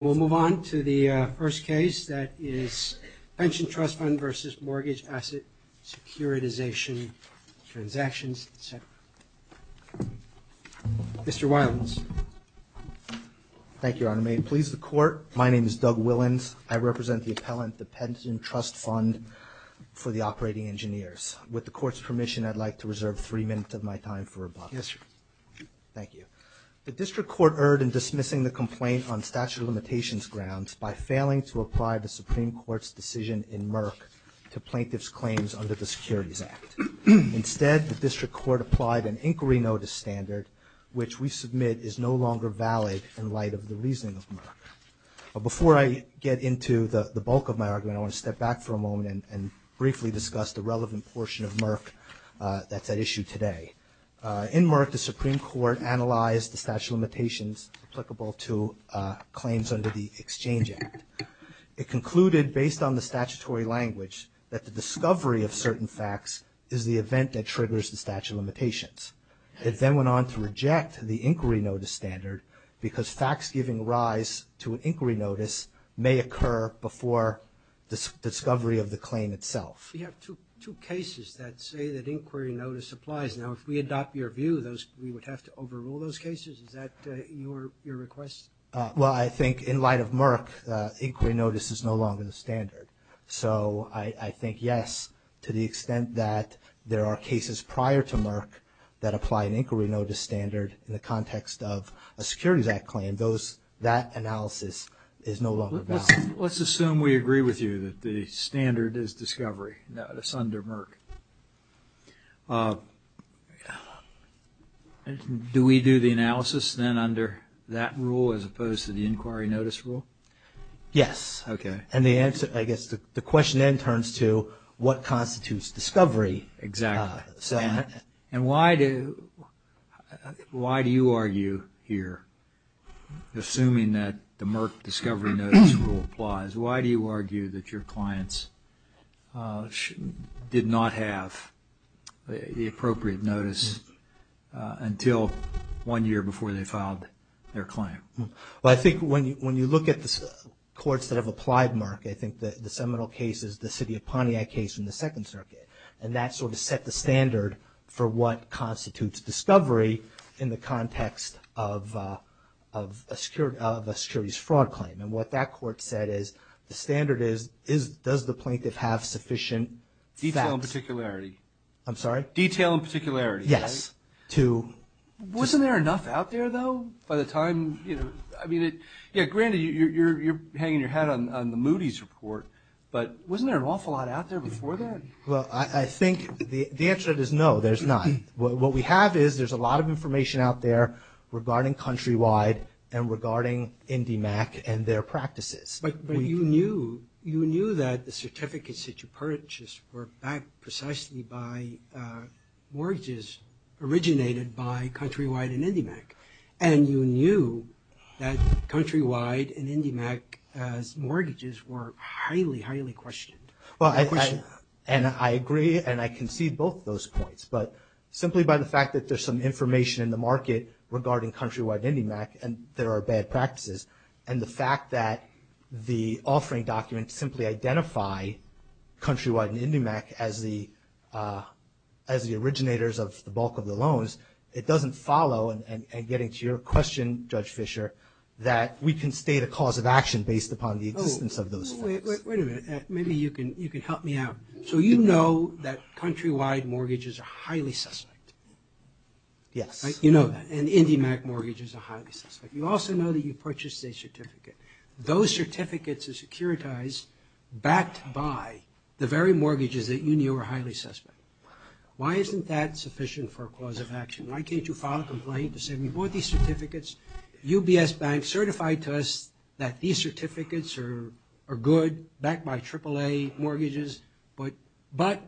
We'll move on to the first case that is Pension Trust Fund Vs. Mortgage Asset Securitization Transactions, etc. Mr. Wilens. Thank you, Your Honor. May it please the Court, my name is Doug Wilens. I represent the appellant to the Pension Trust Fund for the Operating Engineers. With the Court's permission, I'd like to reserve three minutes of my time for rebuttal. The District Court erred in dismissing the complaint on statute of limitations grounds by failing to apply the Supreme Court's decision in Merck to plaintiff's claims under the Securities Act. Instead, the District Court applied an inquiry notice standard, which we submit is no longer valid in light of the reasoning of Merck. Before I get into the bulk of my argument, I want to step back for a moment and briefly discuss the relevant portion of Merck that's at issue today. In Merck, the Supreme Court analyzed the statute of limitations applicable to claims under the Exchange Act. It concluded, based on the statutory language, that the discovery of certain facts is the event that triggers the statute of limitations. It then went on to reject the inquiry notice standard because facts giving rise to an inquiry notice may occur before the discovery of the claim itself. We have two cases that say that inquiry notice applies. Now, if we adopt your view, we would have to overrule those cases? Is that your request? Well, I think in light of Merck, inquiry notice is no longer the standard. So I think, yes, to the extent that there are cases prior to Merck that apply an inquiry notice standard in the context of a Securities Act claim, that analysis is no longer valid. Let's assume we agree with you that the standard is discovery notice under Merck. Do we do the analysis then under that rule as opposed to the inquiry notice rule? Yes. And I guess the question then turns to what constitutes discovery? Exactly. And why do you argue here, assuming that the Merck discovery notice rule applies, why do you argue that your clients did not have the appropriate notice until one year before they filed their claim? Well, I think when you look at the courts that have applied Merck, I think the seminal case is the city of Pontiac case in the Second Circuit. And that sort of set the standard for what constitutes discovery in the context of a securities fraud claim. And what that court said is the standard is, does the plaintiff have sufficient facts? Detail and particularity. Detail and particularity. Yes. Wasn't there enough out there, though, by the time, you know, I mean, yeah, granted, you're hanging your hat on the Moody's report, but wasn't there an awful lot out there before that? Well, I think the answer to that is no, there's not. What we have is there's a lot of information out there regarding Countrywide and regarding IndyMac and their practices. But you knew that the certificates that you purchased were backed precisely by mortgages originated by Countrywide and IndyMac. And you knew that Countrywide and IndyMac's mortgages were highly, highly questioned. And I agree, and I concede both of those points. But simply by the fact that there's some information in the market regarding Countrywide and IndyMac, and there are bad practices, and the fact that the offering documents simply identify Countrywide and IndyMac as the originators of the bulk of the loans, it doesn't follow, and getting to your question, Judge Fischer, that we can state a cause of action based upon the existence of those things. Wait a minute, maybe you can help me out. So you know that Countrywide mortgages are highly suspect. Yes. You know that, and IndyMac mortgages are highly suspect. You also know that you purchased a certificate. Those certificates are securitized, backed by the very mortgages that you knew were highly suspect. Why isn't that sufficient for a cause of action? Why can't you file a complaint to say we bought these certificates, UBS Bank certified to us that these certificates are good, backed by AAA mortgages, but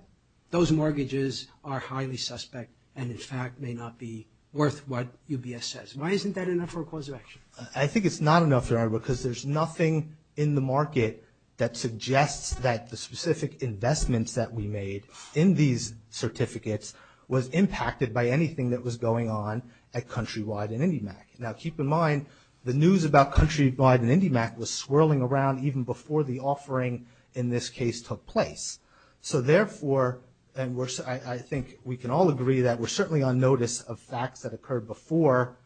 those mortgages are highly suspect and in fact may not be worth what UBS says. Why isn't that enough for a cause of action? I think it's not enough, because there's nothing in the market that suggests that the specific investments that we made in these certificates was impacted by anything that was going on at Countrywide and IndyMac. Now keep in mind, the news about Countrywide and IndyMac was swirling around even before the offering in this case took place. So therefore, and I think we can all agree that we're certainly on notice of facts that occurred before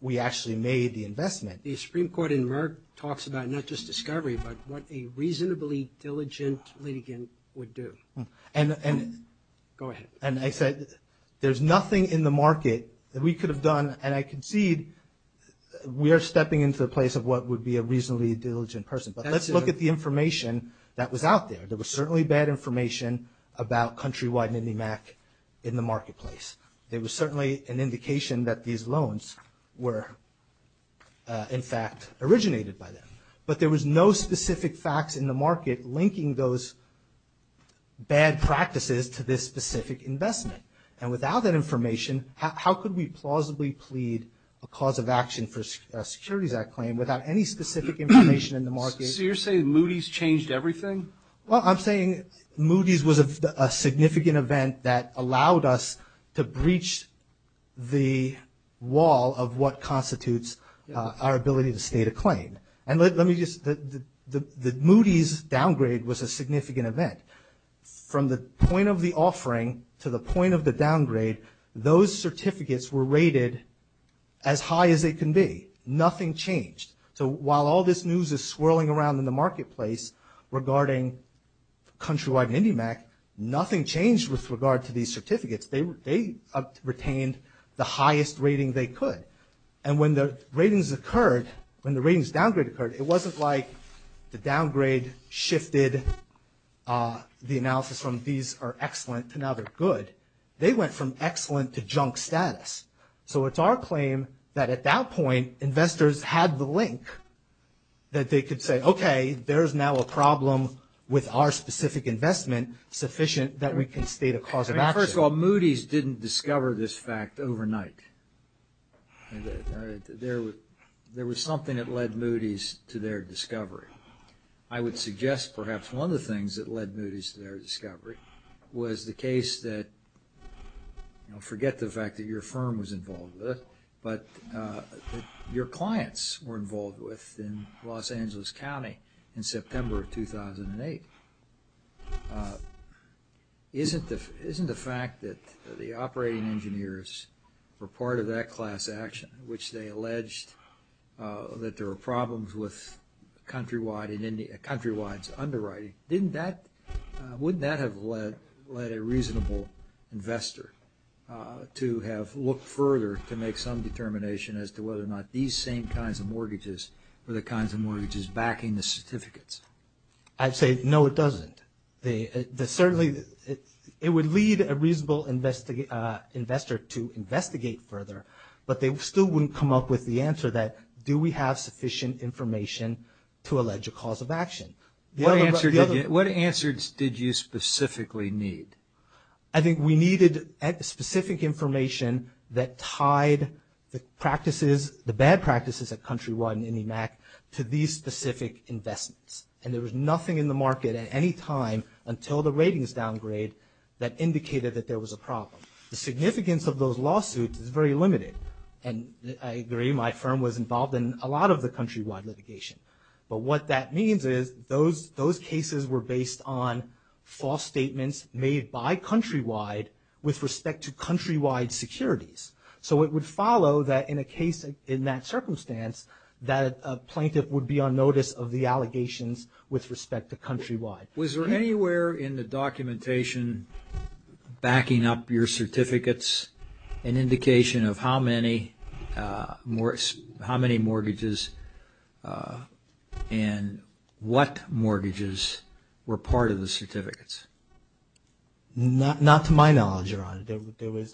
we actually made the investment. The Supreme Court in Merck talks about not just discovery, but what a reasonably diligent litigant would do. Go ahead. And I said, there's nothing in the market that we could have done. And I concede we are stepping into the place of what would be a reasonably diligent person. But let's look at the information that was out there. There was certainly bad information about Countrywide and IndyMac in the marketplace. There was certainly an indication that these loans were in fact originated by them. But there was no specific facts in the market linking those bad practices to this specific investment. And without that information, how could we plausibly plead a cause of action for a Securities Act claim without any specific information in the market? So you're saying Moody's changed everything? Well, I'm saying Moody's was a significant event that allowed us to breach the wall of what constitutes our ability to state a claim. And let me just, the Moody's downgrade was a significant event. From the point of the offering to the point of the downgrade, those certificates were rated as high as they can be. Nothing changed. So while all this news is swirling around in the marketplace regarding Countrywide and IndyMac, nothing changed with regard to these certificates. They retained the highest rating they could. And when the ratings occurred, when the ratings downgrade occurred, it wasn't like the downgrade shifted the analysis from these are excellent to now they're good. They went from excellent to junk status. So it's our claim that at that point, investors had the link that they could say, okay, there's now a problem with our specific investment sufficient that we can state a cause of action. So Moody's didn't discover this fact overnight. There was something that led Moody's to their discovery. I would suggest perhaps one of the things that led Moody's to their discovery was the case that, forget the fact that your firm was involved with it, but your clients were involved with in Los Angeles County in September of 2008. Isn't the fact that the operating engineers were part of that class action, which they alleged that there were problems with Countrywide's underwriting, wouldn't that have led a reasonable investor to have looked further to make some determination as to whether or not these same kinds of mortgages were the kinds of mortgages backing the certificates? I'd say, no, it doesn't. Certainly, it would lead a reasonable investor to investigate further, but they still wouldn't come up with the answer that, do we have sufficient information to allege a cause of action? What answers did you specifically need? I think we needed specific information that tied the practices, at Countrywide and IndyMac, to these specific investments. There was nothing in the market at any time until the ratings downgrade that indicated that there was a problem. The significance of those lawsuits is very limited. I agree my firm was involved in a lot of the Countrywide litigation, but what that means is those cases were based on false statements made by Countrywide with respect to Countrywide securities. So, it would follow that in a case in that circumstance, that a plaintiff would be on notice of the allegations with respect to Countrywide. Was there anywhere in the documentation backing up your certificates, an indication of how many mortgages and what mortgages were part of the certificates? Not to my knowledge, Your Honor.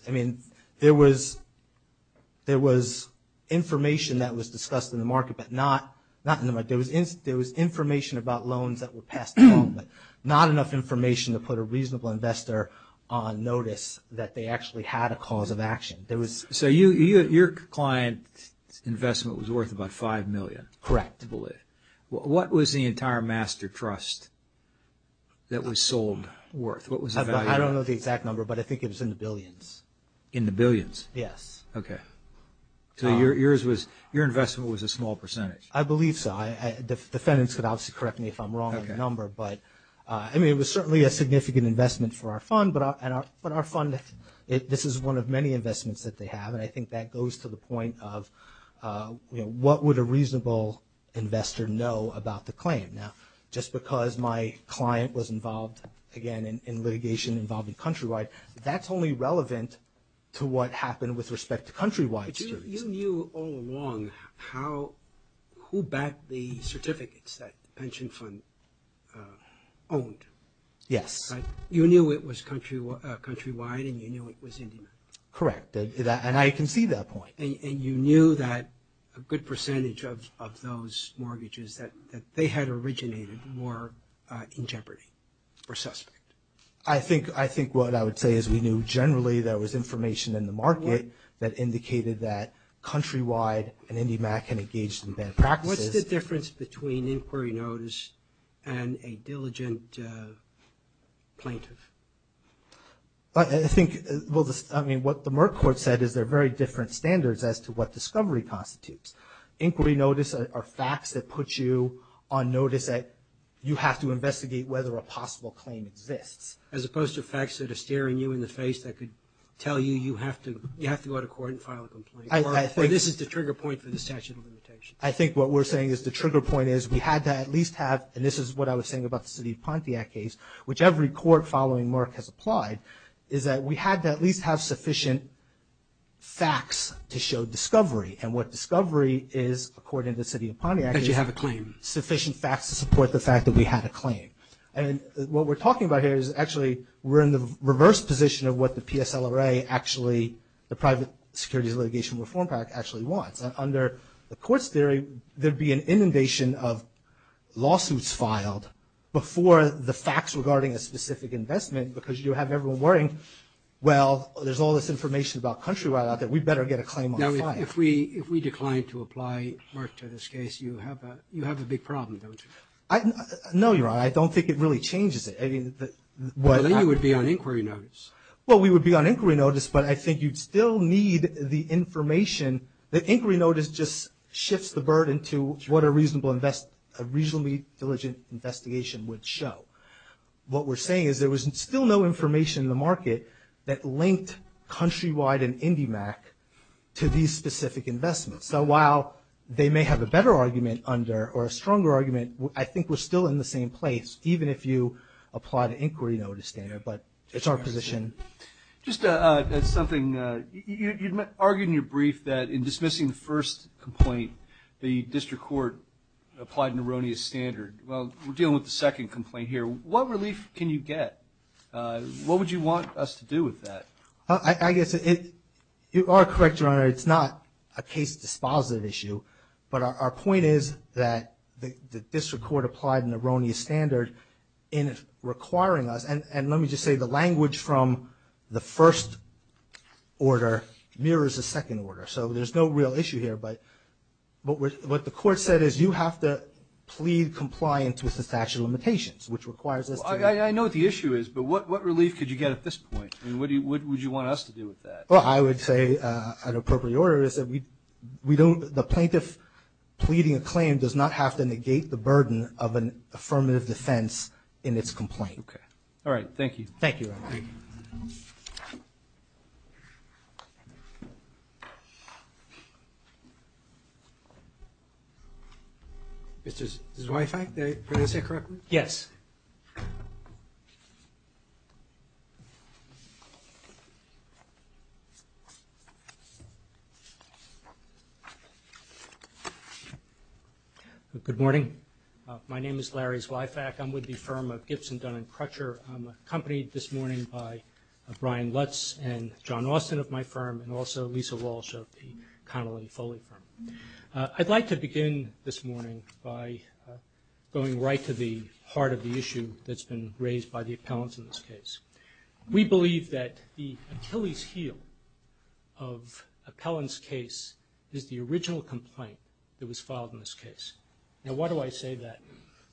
I mean, there was information that was discussed in the market, but not in the market. There was information about loans that were passed along, but not enough information to put a reasonable investor on notice that they actually had a cause of action. So, your client's investment was worth about $5 million? Correct. What was the entire Master Trust that was sold worth? I don't know the exact number, but I think it was in the billions. In the billions? Yes. Okay. So, your investment was a small percentage? I believe so. The defendants could obviously correct me if I'm wrong on the number. I mean, it was certainly a significant investment for our fund, but our fund, this is one of many investments that they have, and I think that goes to the point of what would a reasonable investor know about the claim? Right now, just because my client was involved, again, in litigation involving Countrywide, that's only relevant to what happened with respect to Countrywide. But you knew all along who backed the certificates that the pension fund owned. Yes. You knew it was Countrywide, and you knew it was Indian. Correct. And I can see that point. And you knew that a good percentage of those mortgages that they had originated were in jeopardy or suspect. I think what I would say is we knew generally there was information in the market that indicated that Countrywide and IndyMac had engaged in bad practices. What's the difference between inquiry notice and a diligent plaintiff? I think what the Merck Court said is there are very different standards as to what discovery constitutes. Inquiry notice are facts that put you on notice that you have to investigate whether a possible claim exists. As opposed to facts that are staring you in the face that could tell you you have to go to court and file a complaint. Or this is the trigger point for the statute of limitations. I think what we're saying is the trigger point is we had to at least have and this is what I was saying about the City of Pontiac case, which every court following Merck has applied, is that we had to at least have sufficient facts to show discovery. And what discovery is, according to the City of Pontiac, is sufficient facts to support the fact that we had a claim. And what we're talking about here is actually we're in the reverse position of what the PSLRA actually, the Private Securities Litigation Reform Act actually wants. Under the court's theory, there'd be an inundation of lawsuits filed before the facts regarding a specific investment because you have everyone worrying, well, there's all this information about countrywide out there. We'd better get a claim on file. Now, if we decline to apply Merck to this case, you have a big problem, don't you? No, you're right. I don't think it really changes it. I mean, what happens... But then you would be on inquiry notice. Well, we would be on inquiry notice, but I think you'd still need the information. The inquiry notice just shifts the burden to what a reasonably diligent investigation would show. What we're saying is there was still no information in the market that linked countrywide and IndyMac to these specific investments. So while they may have a better argument under or a stronger argument, I think we're still in the same place, even if you apply the inquiry notice there. But it's our position. Just something. You argued in your brief that in dismissing the first complaint, the district court applied an erroneous standard. Well, we're dealing with the second complaint here. What relief can you get? What would you want us to do with that? I guess you are correct, Your Honor. It's not a case dispositive issue, but our point is that the district court applied an erroneous standard in requiring us, and let me just say the language from the first order mirrors the second order. So there's no real issue here, but what the court said is you have to plead compliance with the statute of limitations. I know what the issue is, but what relief could you get at this point? What would you want us to do with that? Well, I would say an appropriate order is that the plaintiff pleading a claim does not have to negate the burden of an affirmative defense in its complaint. Okay. All right. Thank you. Thank you, Your Honor. Mr. Zweifack, did I say it correctly? Yes. Good morning. My name is Larry Zweifack. I'm with the firm of Gibson, Dunn & Crutcher. I'm accompanied this morning by Brian Lutz and John Austin of my firm and also Lisa Walsh of the Connolly Foley firm. I'd like to begin this morning by going right to the heart of the issue that's been raised by the appellants in this case. We believe that the Achilles heel of Appellant's case is the original complaint that was filed in this case. Now, why do I say that?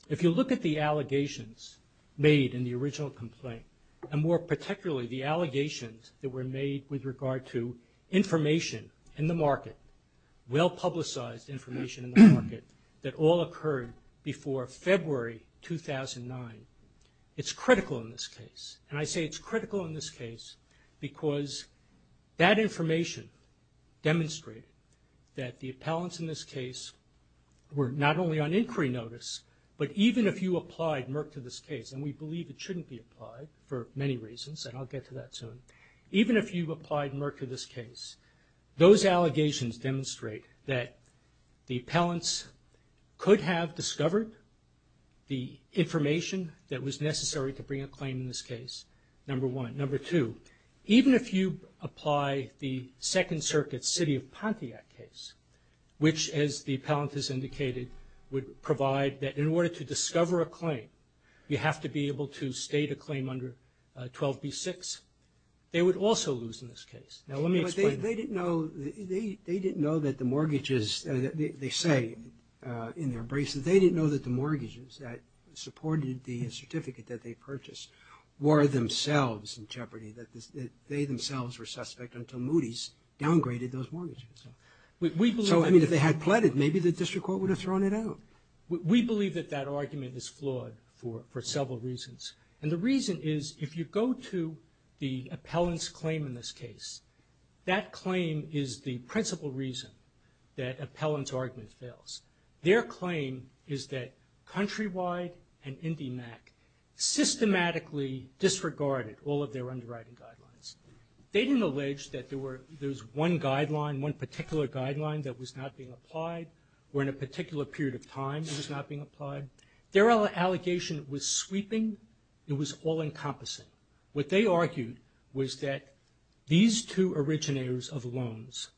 If you look at the allegations made in the original complaint and more particularly the allegations that were made with regard to information in the market, well-publicized information in the market, that all occurred before February 2009, it's critical in this case. And I say it's critical in this case because that information demonstrated that the appellants in this case were not only on inquiry notice, but even if you applied Merck to this case, and we believe it shouldn't be applied for many reasons, and I'll get to that soon, even if you applied Merck to this case, those allegations demonstrate that the appellants could have discovered the information that was necessary to bring a claim in this case, number one. Number two, even if you apply the Second Circuit City of Pontiac case, which, as the appellant has indicated, would provide that in order to discover a claim, you have to be able to state a claim under 12b-6, they would also lose in this case. Now, let me explain that. They didn't know that the mortgages, they say in their braces, they didn't know that the mortgages that supported the certificate that they purchased were themselves in jeopardy, that they themselves were suspect until Moody's downgraded those mortgages. So, I mean, if they had pleaded, maybe the district court would have thrown it out. We believe that that argument is flawed for several reasons, and the reason is if you go to the appellant's claim in this case, that claim is the principal reason that appellant's argument fails. Their claim is that Countrywide and IndyMac systematically disregarded all of their underwriting guidelines. They didn't allege that there was one guideline, one particular guideline that was not being applied or in a particular period of time it was not being applied. Their allegation was sweeping. It was all-encompassing. What they argued was that these two originators of loans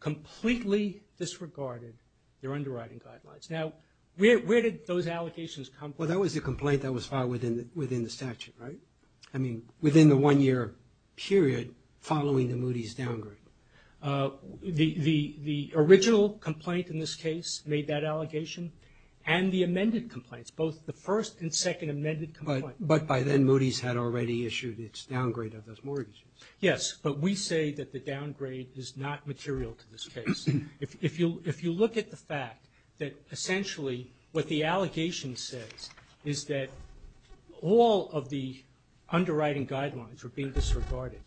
completely disregarded their underwriting guidelines. Now, where did those allegations come from? Well, that was a complaint that was filed within the statute, right? I mean, within the one-year period following the Moody's downgrade. The original complaint in this case made that allegation and the amended complaints, both the first and second amended complaints. But by then, Moody's had already issued its downgrade of those mortgages. Yes. But we say that the downgrade is not material to this case. If you look at the fact that essentially what the allegation says is that all of the underwriting guidelines were being disregarded,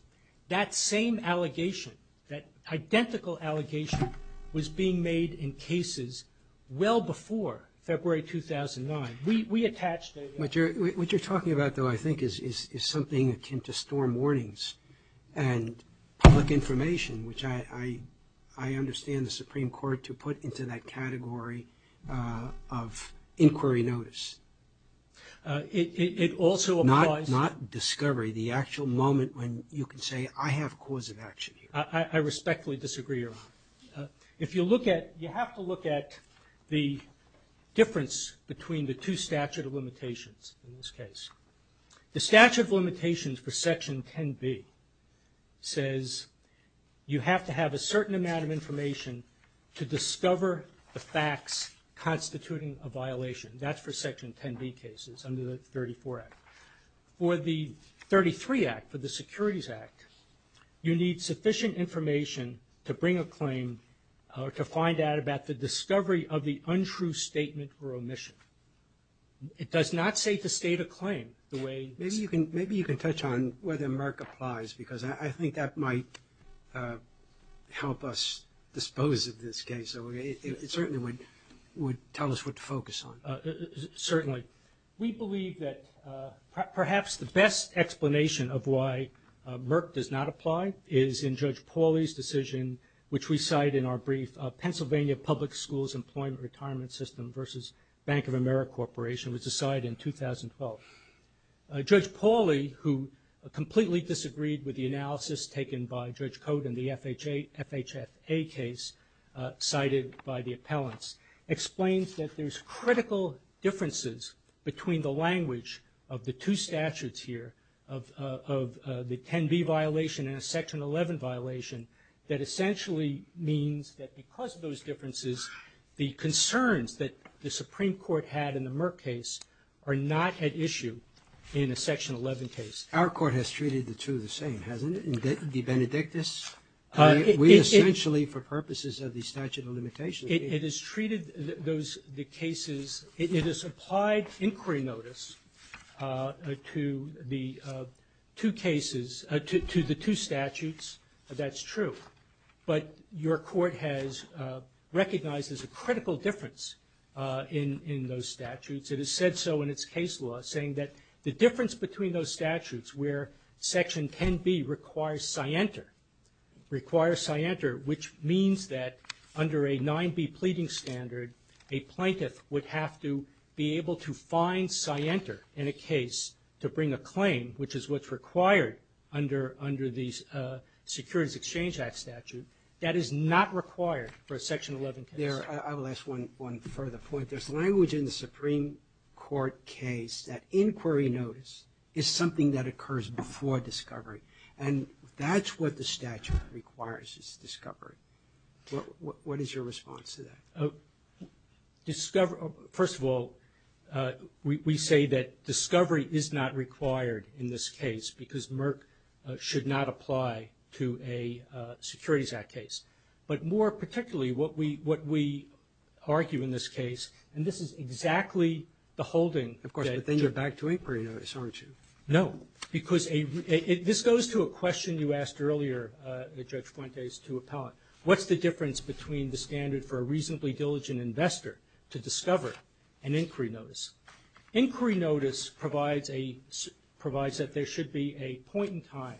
that same allegation, that identical allegation, was being made in cases well before February 2009. We attach that to that. What you're talking about, though, I think, is something akin to storm warnings and public information, which I understand the Supreme Court to put into that category of inquiry notice. It also applies— Not discovery, the actual moment when you can say, I respectfully disagree, Your Honor. If you look at—you have to look at the difference between the two statute of limitations in this case. The statute of limitations for Section 10b says you have to have a certain amount of information to discover the facts constituting a violation. That's for Section 10b cases under the 34 Act. For the 33 Act, for the Securities Act, you need sufficient information to bring a claim or to find out about the discovery of the untrue statement or omission. It does not say to state a claim the way— Maybe you can touch on whether Merck applies because I think that might help us dispose of this case. It certainly would tell us what to focus on. Certainly. We believe that perhaps the best explanation of why Merck does not apply is in Judge Pauli's decision, which we cite in our brief, Pennsylvania Public Schools Employment Retirement System versus Bank of America Corporation, which was decided in 2012. Judge Pauli, who completely disagreed with the analysis taken by Judge Cote in the FHFA case cited by the appellants, explains that there's critical differences between the language of the two statutes here, of the 10b violation and a Section 11 violation, that essentially means that because of those differences, the concerns that the Supreme Court had in the Merck case are not at issue in a Section 11 case. Our court has treated the two the same, hasn't it? De benedictus? We essentially, for purposes of the statute of limitations— it has treated the cases— it has applied inquiry notice to the two cases— to the two statutes, that's true. But your court has recognized there's a critical difference in those statutes. It has said so in its case law, saying that the difference between those statutes where Section 10b requires scienter, which means that under a 9b pleading standard, a plaintiff would have to be able to find scienter in a case to bring a claim, which is what's required under the Securities Exchange Act statute. That is not required for a Section 11 case. I will ask one further point. There's language in the Supreme Court case that inquiry notice is something that occurs before discovery. And that's what the statute requires is discovery. What is your response to that? First of all, we say that discovery is not required in this case because Merck should not apply to a Securities Act case. But more particularly, what we argue in this case— and this is exactly the holding that— Of course, but then you're back to inquiry notice, aren't you? No. Because this goes to a question you asked earlier, Judge Fuentes, to appellate. What's the difference between the standard for a reasonably diligent investor to discover an inquiry notice? Inquiry notice provides that there should be a point in time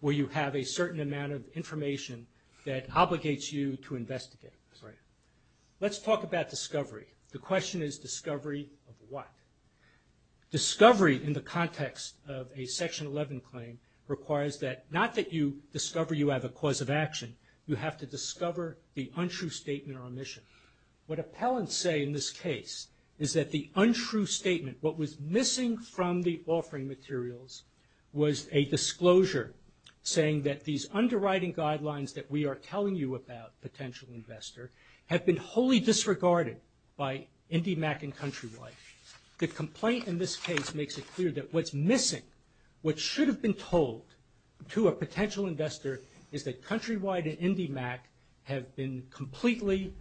where you have a certain amount of information that obligates you to investigate. Right. Let's talk about discovery. The question is discovery of what? Discovery in the context of a Section 11 claim requires that— not that you discover you have a cause of action. You have to discover the untrue statement or omission. What appellants say in this case is that the untrue statement, what was missing from the offering materials, was a disclosure saying that these underwriting guidelines that we are telling you about, potential investor, have been wholly disregarded by IndyMac and CountryWide. The complaint in this case makes it clear that what's missing, what should have been told to a potential investor, is that CountryWide and IndyMac have been completely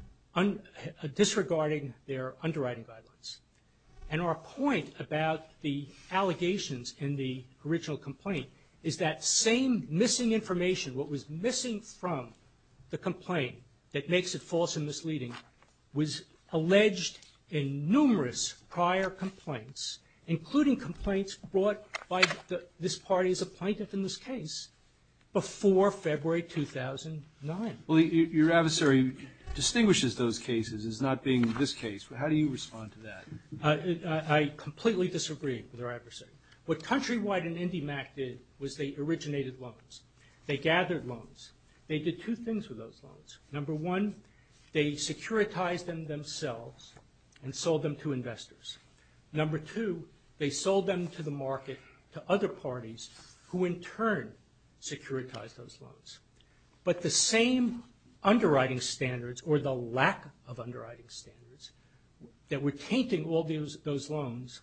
disregarding their underwriting guidelines. And our point about the allegations in the original complaint is that same missing information, what was missing from the complaint that makes it false and misleading, was alleged in numerous prior complaints, including complaints brought by this party as a plaintiff in this case, before February 2009. Well, your adversary distinguishes those cases as not being this case. How do you respond to that? I completely disagree with our adversary. What CountryWide and IndyMac did was they originated loans. They gathered loans. They did two things with those loans. Number one, they securitized them themselves and sold them to investors. Number two, they sold them to the market, to other parties, who in turn securitized those loans. But the same underwriting standards, or the lack of underwriting standards, that were tainting all those loans,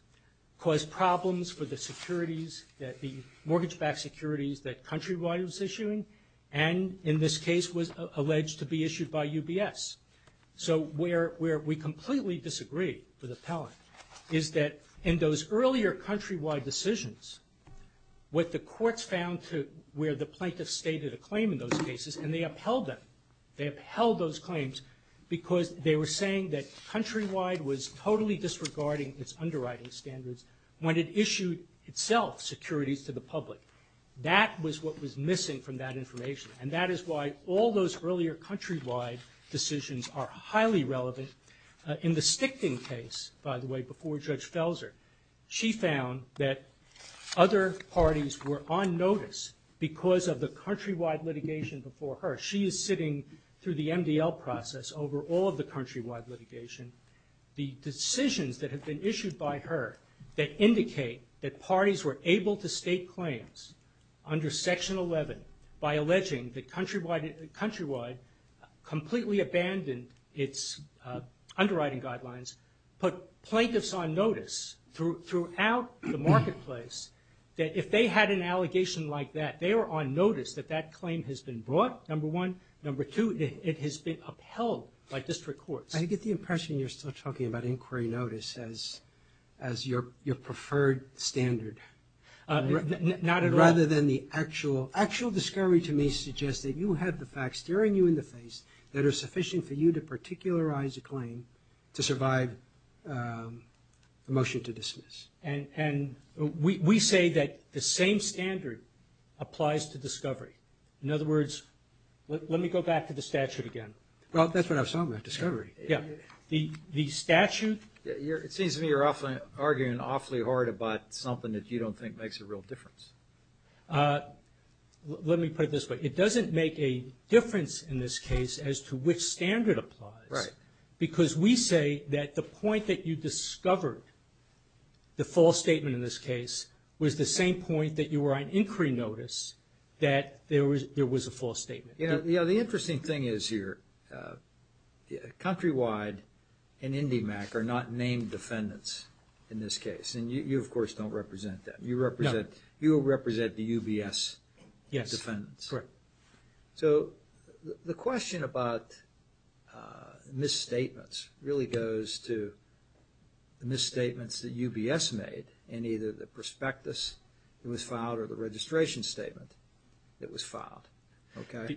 caused problems for the securities that the mortgage-backed securities that CountryWide was issuing, and in this case was alleged to be issued by UBS. So where we completely disagree with appellant is that in those earlier CountryWide decisions, what the courts found where the plaintiff stated a claim in those cases, and they upheld them, they upheld those claims, because they were saying that CountryWide was totally disregarding its underwriting standards when it issued itself securities to the public. That was what was missing from that information, and that is why all those earlier CountryWide decisions are highly relevant. In the Stichting case, by the way, before Judge Felser, she found that other parties were on notice because of the CountryWide litigation before her. She is sitting through the MDL process over all of the CountryWide litigation. The decisions that have been issued by her that indicate that parties were able to state claims under Section 11 by alleging that CountryWide completely abandoned its underwriting guidelines put plaintiffs on notice throughout the marketplace that if they had an allegation like that, they were on notice that that claim has been brought, number one. Number two, it has been upheld by district courts. I get the impression you're still talking about inquiry notice as your preferred standard. Not at all. Rather than the actual discovery to me suggests that you have the facts staring you in the face that are sufficient for you to particularize a claim to survive the motion to dismiss. And we say that the same standard applies to discovery. In other words, let me go back to the statute again. Well, that's what I was talking about, discovery. Yeah. The statute. It seems to me you're arguing awfully hard about something that you don't think makes a real difference. Let me put it this way. It doesn't make a difference in this case as to which standard applies. Right. Because we say that the point that you discovered the false statement in this case was the same point that you were on inquiry notice that there was a false statement. You know, the interesting thing is here, Countrywide and NDMAC are not named defendants in this case. And you, of course, don't represent them. You represent the UBS defendants. Yes. Correct. So the question about misstatements really goes to the misstatements that UBS made Okay.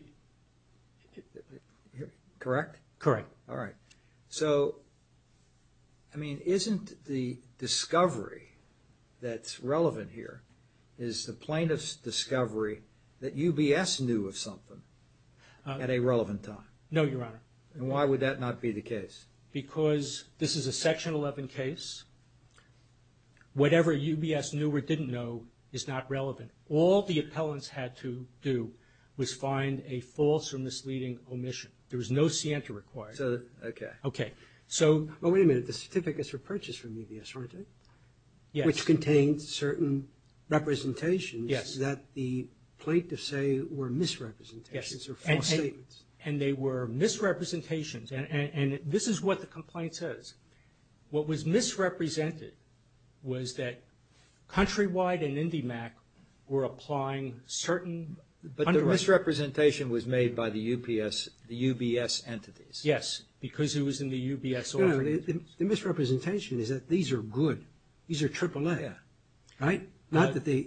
Correct? Correct. All right. So, I mean, isn't the discovery that's relevant here, is the plaintiff's discovery that UBS knew of something at a relevant time? No, Your Honor. And why would that not be the case? Because this is a Section 11 case. Whatever UBS knew or didn't know is not relevant. All the appellants had to do was find a false or misleading omission. There was no scienta required. Okay. Okay. So – Well, wait a minute. The certificates were purchased from UBS, weren't they? Yes. Which contained certain representations that the plaintiffs say were misrepresentations or false statements. Yes. And they were misrepresentations. And this is what the complaint says. What was misrepresented was that Countrywide and IndyMac were applying certain – But the misrepresentation was made by the UBS entities. Yes. Because it was in the UBS – No, the misrepresentation is that these are good. These are AAA. Yeah. Right? Not that they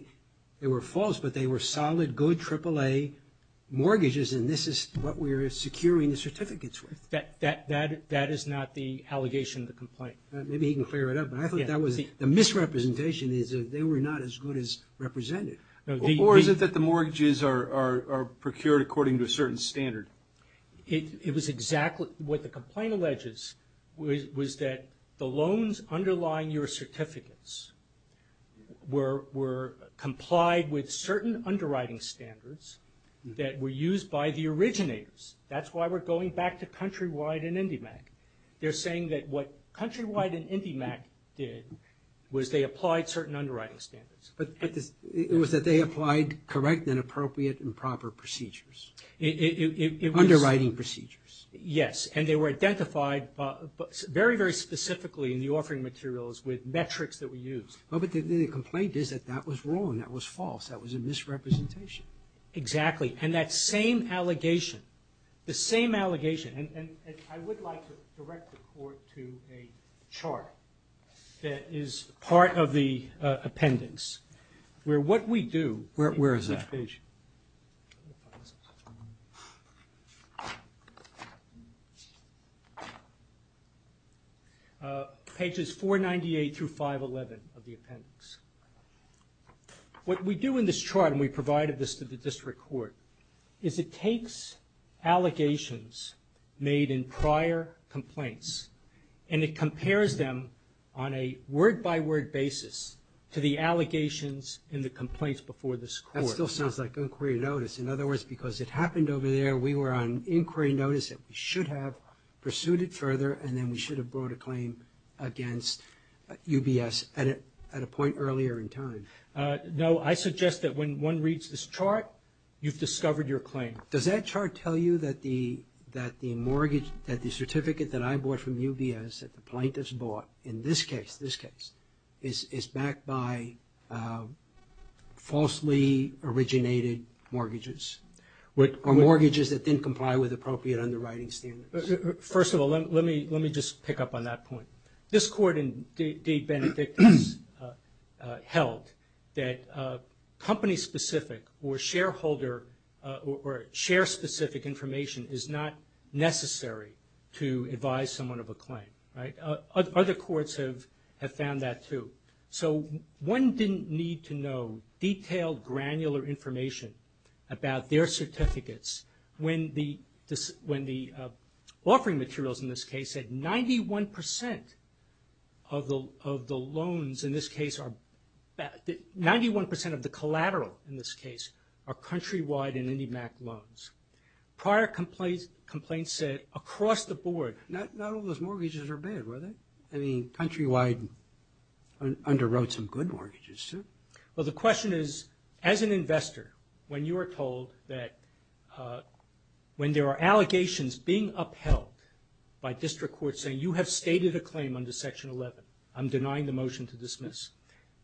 were false, but they were solid, good, AAA mortgages, and this is what we're securing the certificates with. That is not the allegation of the complaint. Maybe he can clear it up. But I thought that was – The misrepresentation is that they were not as good as represented. Or is it that the mortgages are procured according to a certain standard? It was exactly – What the complaint alleges was that the loans underlying your certificates were complied with certain underwriting standards that were used by the originators. That's why we're going back to Countrywide and IndyMac. They're saying that what Countrywide and IndyMac did was they applied certain underwriting standards. But it was that they applied correct and appropriate and proper procedures. Underwriting procedures. Yes. And they were identified very, very specifically in the offering materials with metrics that were used. But the complaint is that that was wrong. That was false. That was a misrepresentation. Exactly. And that same allegation, the same allegation – and I would like to direct the Court to a chart that is part of the appendix. Where what we do – Where is that? Page 498 through 511 of the appendix. What we do in this chart, and we provided this to the District Court, is it takes allegations made in prior complaints and it compares them on a word-by-word basis to the allegations in the complaints before this Court. That still sounds like inquiry notice. In other words, because it happened over there, we were on inquiry notice that we should have pursued it further and then we should have brought a claim against UBS at a point earlier in time. No. I suggest that when one reads this chart, you've discovered your claim. Does that chart tell you that the certificate that I bought from UBS that the plaintiff's bought, in this case, is backed by falsely originated mortgages? Or mortgages that didn't comply with appropriate underwriting standards? First of all, let me just pick up on that point. This Court in Deed Benedict held that company-specific or shareholder or share-specific information is not necessary to advise someone of a claim. Other courts have found that too. So one didn't need to know detailed granular information about their certificates when the offering materials, in this case, said 91% of the collateral, in this case, are countrywide and IndyMac loans. Prior complaints said across the board. Not all those mortgages are bad, were they? I mean, countrywide underwrote some good mortgages too. Well, the question is, as an investor, when you are told that when there are allegations being upheld by district courts saying you have stated a claim under Section 11, I'm denying the motion to dismiss,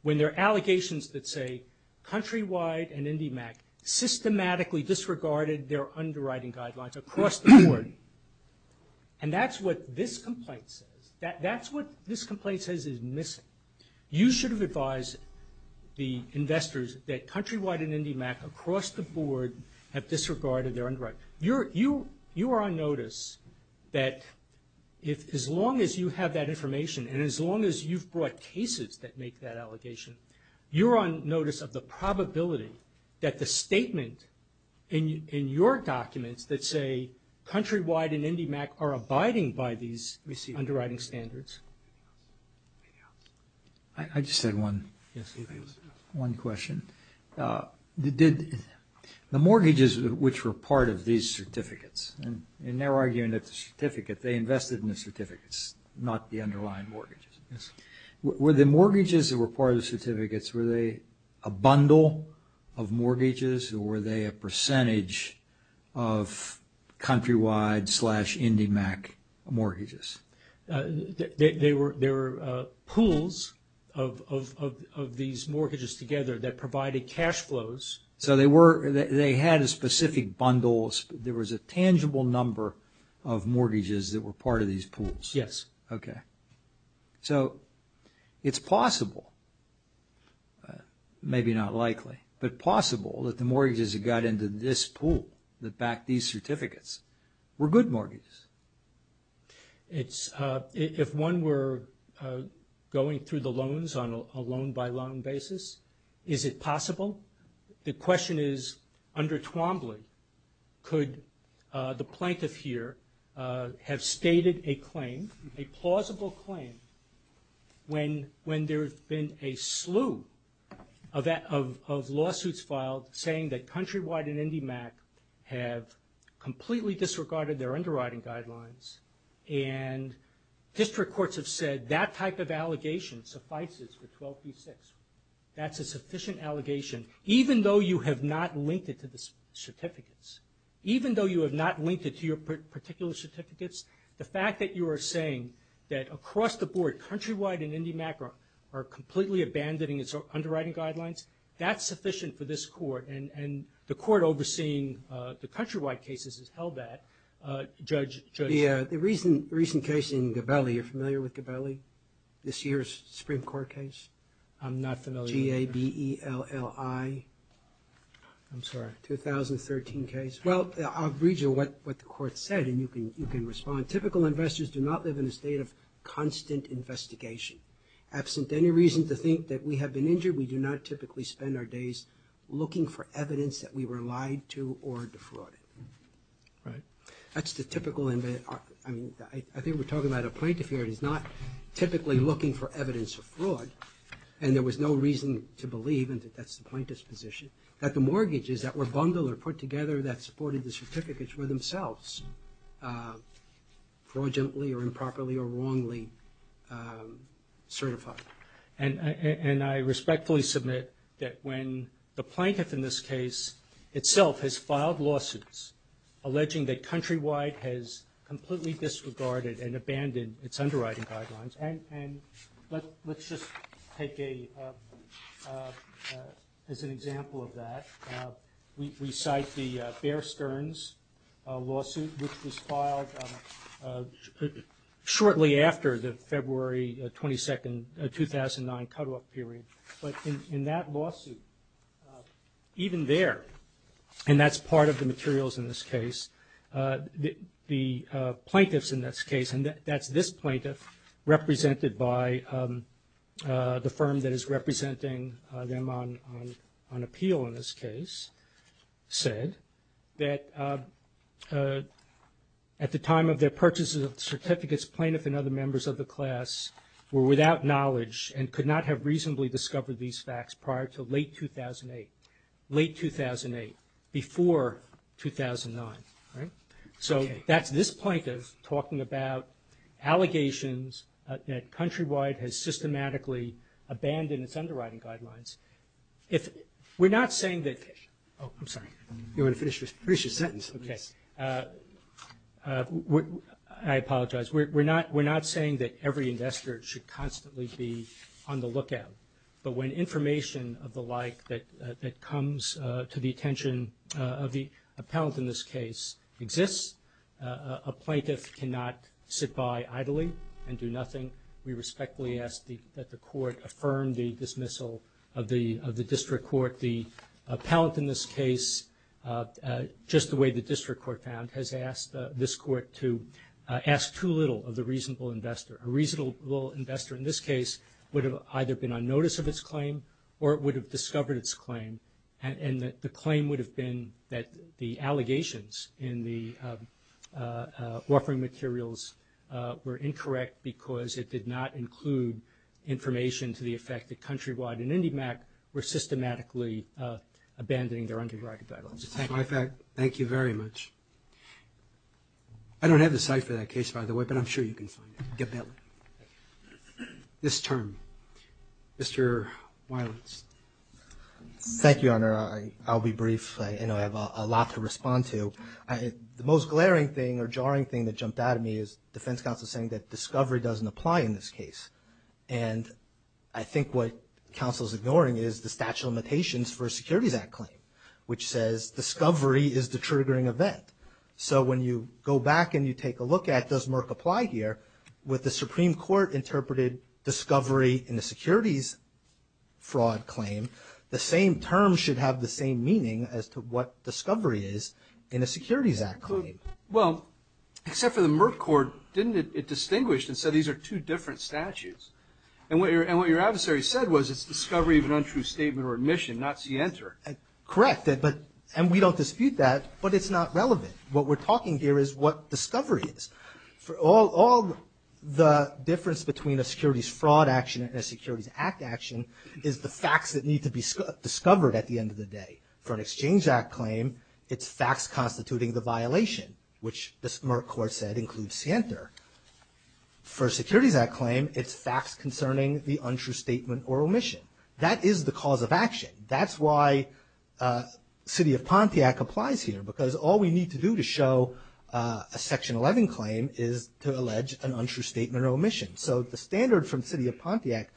when there are allegations that say countrywide and IndyMac systematically disregarded their underwriting guidelines across the board, and that's what this complaint says, that's what this complaint says is missing, you should have advised the investors that countrywide and IndyMac across the board have disregarded their underwriting. You are on notice that as long as you have that information and as long as you've brought cases that make that allegation, you're on notice of the probability that the statement in your documents that say countrywide and IndyMac are abiding by these underwriting standards I just had one question. The mortgages which were part of these certificates, and they're arguing that the certificate, they invested in the certificates, not the underlying mortgages. Were the mortgages that were part of the certificates, were they a bundle of mortgages or were they a percentage of countrywide slash IndyMac mortgages? They were pools of these mortgages together that provided cash flows. So they were, they had a specific bundle, there was a tangible number of mortgages that were part of these pools? Yes. Okay. So it's possible, maybe not likely, but possible that the mortgages that got into this pool that backed these certificates were good mortgages? If one were going through the loans on a loan-by-loan basis, is it possible? The question is, under Twombly, could the plaintiff here have stated a claim, a plausible claim, when there's been a slew of lawsuits filed saying that countrywide and IndyMac have completely disregarded their underwriting guidelines and district courts have said that type of allegation suffices for 12b-6? That's a sufficient allegation, even though you have not linked it to the certificates. Even though you have not linked it to your particular certificates, the fact that you are saying that across the board, countrywide and IndyMac are completely abandoning its underwriting guidelines, that's sufficient for this court and the court overseeing the countrywide cases has held that. Judge? The recent case in Gabelli, are you familiar with Gabelli? This year's Supreme Court case? I'm not familiar. G-A-B-E-L-L-I. I'm sorry. 2013 case. Well, I'll read you what the court said and you can respond. Typical investors do not live in a state of constant investigation. Absent any reason to think that we have been injured, we do not typically spend our days looking for evidence that we were lied to or defrauded. Right. That's the typical investment. I mean, I think we're talking about a plaintiff here that is not typically looking for evidence of fraud and there was no reason to believe, and that's the plaintiff's position, that the mortgages that were bundled or put together that supported the certificates were themselves fraudulently or improperly or wrongly certified. And I respectfully submit that when the plaintiff in this case itself has filed lawsuits alleging that Countrywide has completely disregarded and abandoned its underwriting guidelines, and let's just take a, as an example of that, we cite the Bear Stearns lawsuit, which was filed shortly after the February 22, 2009 cutoff period. But in that lawsuit, even there, and that's part of the materials in this case, the plaintiffs in this case, and that's this plaintiff, represented by the firm that is representing them on appeal in this case, said that at the time of their purchase of the certificates, plaintiff and other members of the class were without knowledge and could not have reasonably discovered these facts prior to late 2008, late 2008, before 2009. So that's this plaintiff talking about allegations that Countrywide has systematically abandoned its underwriting guidelines. We're not saying that... Oh, I'm sorry. You want to finish your sentence? Okay. I apologize. We're not saying that every investor should constantly be on the lookout, but when information of the like that comes to the attention of the appellant in this case exists, a plaintiff cannot sit by idly and do nothing. We respectfully ask that the court affirm the dismissal of the district court. The appellant in this case, just the way the district court found, has asked this court to ask too little of the reasonable investor. A reasonable investor in this case would have either been on notice of its claim or would have discovered its claim, and the claim would have been that the allegations in the offering materials were incorrect because it did not include information to the effect that Countrywide and IndyMac were systematically abandoning their underwriting guidelines. That's my fact. Thank you very much. I don't have the site for that case, by the way, but I'm sure you can find it. This term. Mr. Weiland. Thank you, Your Honor. I'll be brief. I have a lot to respond to. The most glaring thing or jarring thing that jumped out at me is the defense counsel saying that discovery doesn't apply in this case, and I think what counsel is ignoring is the statute of limitations for a Securities Act claim, which says discovery is the triggering event. So when you go back and you take a look at does Merck apply here, with the Supreme Court interpreted discovery in a Securities Fraud claim, the same term should have the same meaning as to what discovery is in a Securities Act claim. Well, except for the Merck Court, didn't it distinguish and say these are two different statutes? And what your adversary said was it's discovery of an untrue statement or admission, not see enter. Correct, and we don't dispute that, but it's not relevant. What we're talking here is what discovery is. All the difference between a Securities Fraud action and a Securities Act action is the facts that need to be discovered at the end of the day. For an Exchange Act claim, it's facts constituting the violation, which the Merck Court said includes see enter. For a Securities Act claim, it's facts concerning the untrue statement or omission. That is the cause of action. That's why City of Pontiac applies here, because all we need to do to show a Section 11 claim is to allege an untrue statement or omission. So the standard from City of Pontiac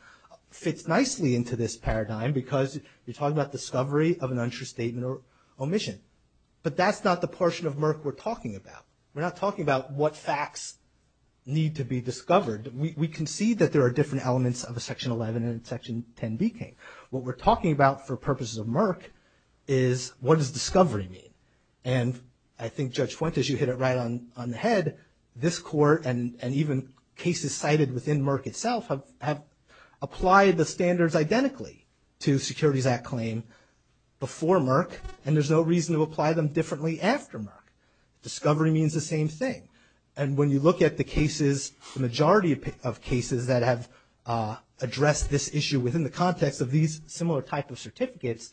fits nicely into this paradigm, because you're talking about discovery of an untrue statement or omission. But that's not the portion of Merck we're talking about. We're not talking about what facts need to be discovered. We concede that there are different elements of a Section 11 and a Section 10B claim. What we're talking about for purposes of Merck is what does discovery mean? And I think Judge Fuentes, you hit it right on the head. This Court and even cases cited within Merck itself have applied the standards identically to Securities Act claim before Merck, and there's no reason to apply them differently after Merck. Discovery means the same thing. And when you look at the cases, the majority of cases that have addressed this issue within the context of these similar types of certificates,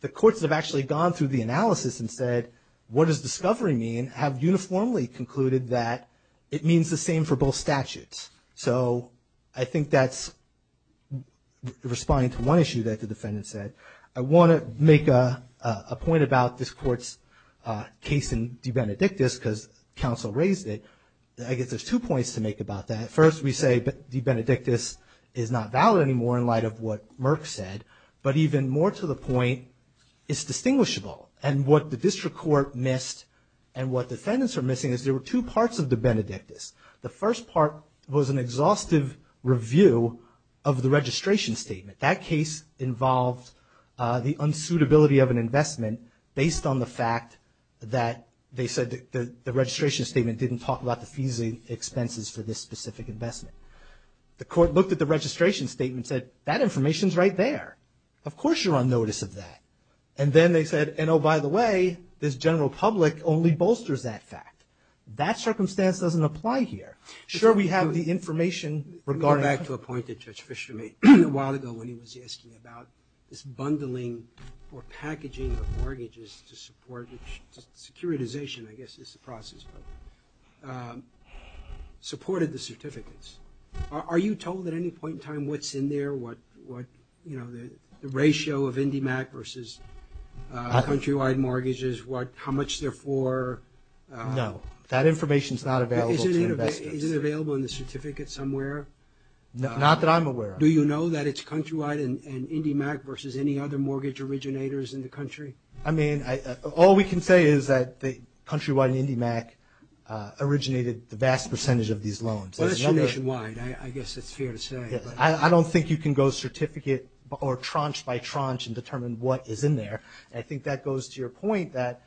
the courts have actually gone through the analysis and said, what does discovery mean, and have uniformly concluded that it means the same for both statutes. So I think that's responding to one issue that the defendant said. I want to make a point about this Court's case in de benedictus because counsel raised it. I guess there's two points to make about that. First, we say de benedictus is not valid anymore in light of what Merck said, but even more to the point, it's distinguishable. And what the district court missed and what defendants are missing is there were two parts of de benedictus. The first part was an exhaustive review of the registration statement. That case involved the unsuitability of an investment based on the fact that they said the registration statement didn't talk about the fees and expenses for this specific investment. The court looked at the registration statement and said, that information's right there. Of course you're on notice of that. And then they said, and oh, by the way, this general public only bolsters that fact. That circumstance doesn't apply here. Sure, we have the information regarding the- I mean, a while ago when he was asking about this bundling or packaging of mortgages to support securitization, I guess it's a process, but supported the certificates. Are you told at any point in time what's in there, what, you know, the ratio of IndyMac versus countrywide mortgages, how much they're for? No. That information's not available to investors. Is it available in the certificate somewhere? Not that I'm aware of. Do you know that it's countrywide and IndyMac versus any other mortgage originators in the country? I mean, all we can say is that the countrywide and IndyMac originated the vast percentage of these loans. Well, that's nationwide. I guess it's fair to say. I don't think you can go certificate or tranche by tranche and determine what is in there. I think that goes to your point that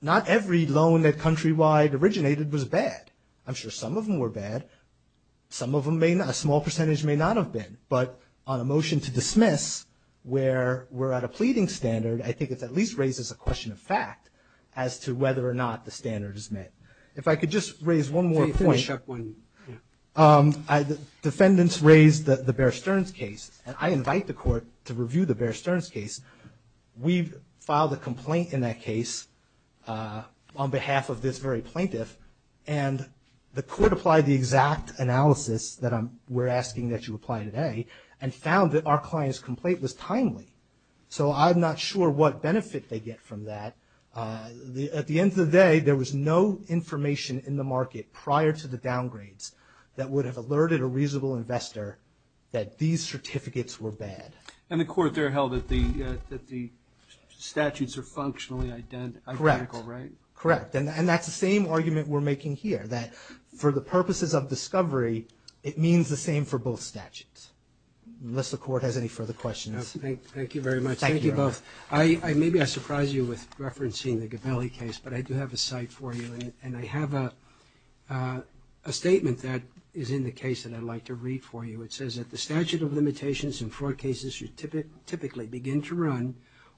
not every loan that countrywide originated was bad. I'm sure some of them were bad. Some of them may not. A small percentage may not have been. But on a motion to dismiss where we're at a pleading standard, I think it at least raises a question of fact as to whether or not the standard is met. If I could just raise one more point. Defendants raised the Bear Stearns case, and I invite the court to review the Bear Stearns case. We filed a complaint in that case on behalf of this very plaintiff, and the court applied the exact analysis that we're asking that you apply today and found that our client's complaint was timely. So I'm not sure what benefit they get from that. At the end of the day, there was no information in the market prior to the downgrades that would have alerted a reasonable investor that these certificates were bad. And the court there held that the statutes are functionally identical, right? Correct. And that's the same argument we're making here, that for the purposes of discovery, it means the same for both statutes, unless the court has any further questions. Thank you very much. Thank you both. Maybe I surprised you with referencing the Gabelli case, but I do have a cite for you, and I have a statement that is in the case that I'd like to read for you. It says that the statute of limitations in fraud cases should typically begin to run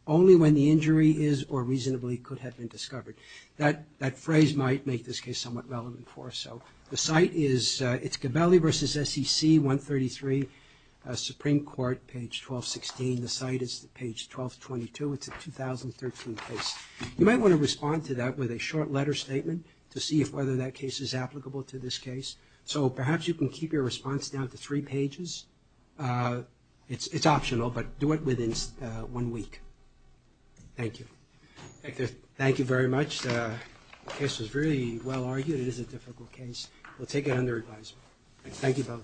only when the injury is or reasonably could have been discovered. That phrase might make this case somewhat relevant for us. So the cite is, it's Gabelli v. SEC 133, Supreme Court, page 1216. The cite is page 1222. It's a 2013 case. You might want to respond to that with a short letter statement to see whether that case is applicable to this case. So perhaps you can keep your response down to three pages. It's optional, but do it within one week. Thank you. Thank you very much. The case was really well argued. It is a difficult case. We'll take it under advisement. Thank you both.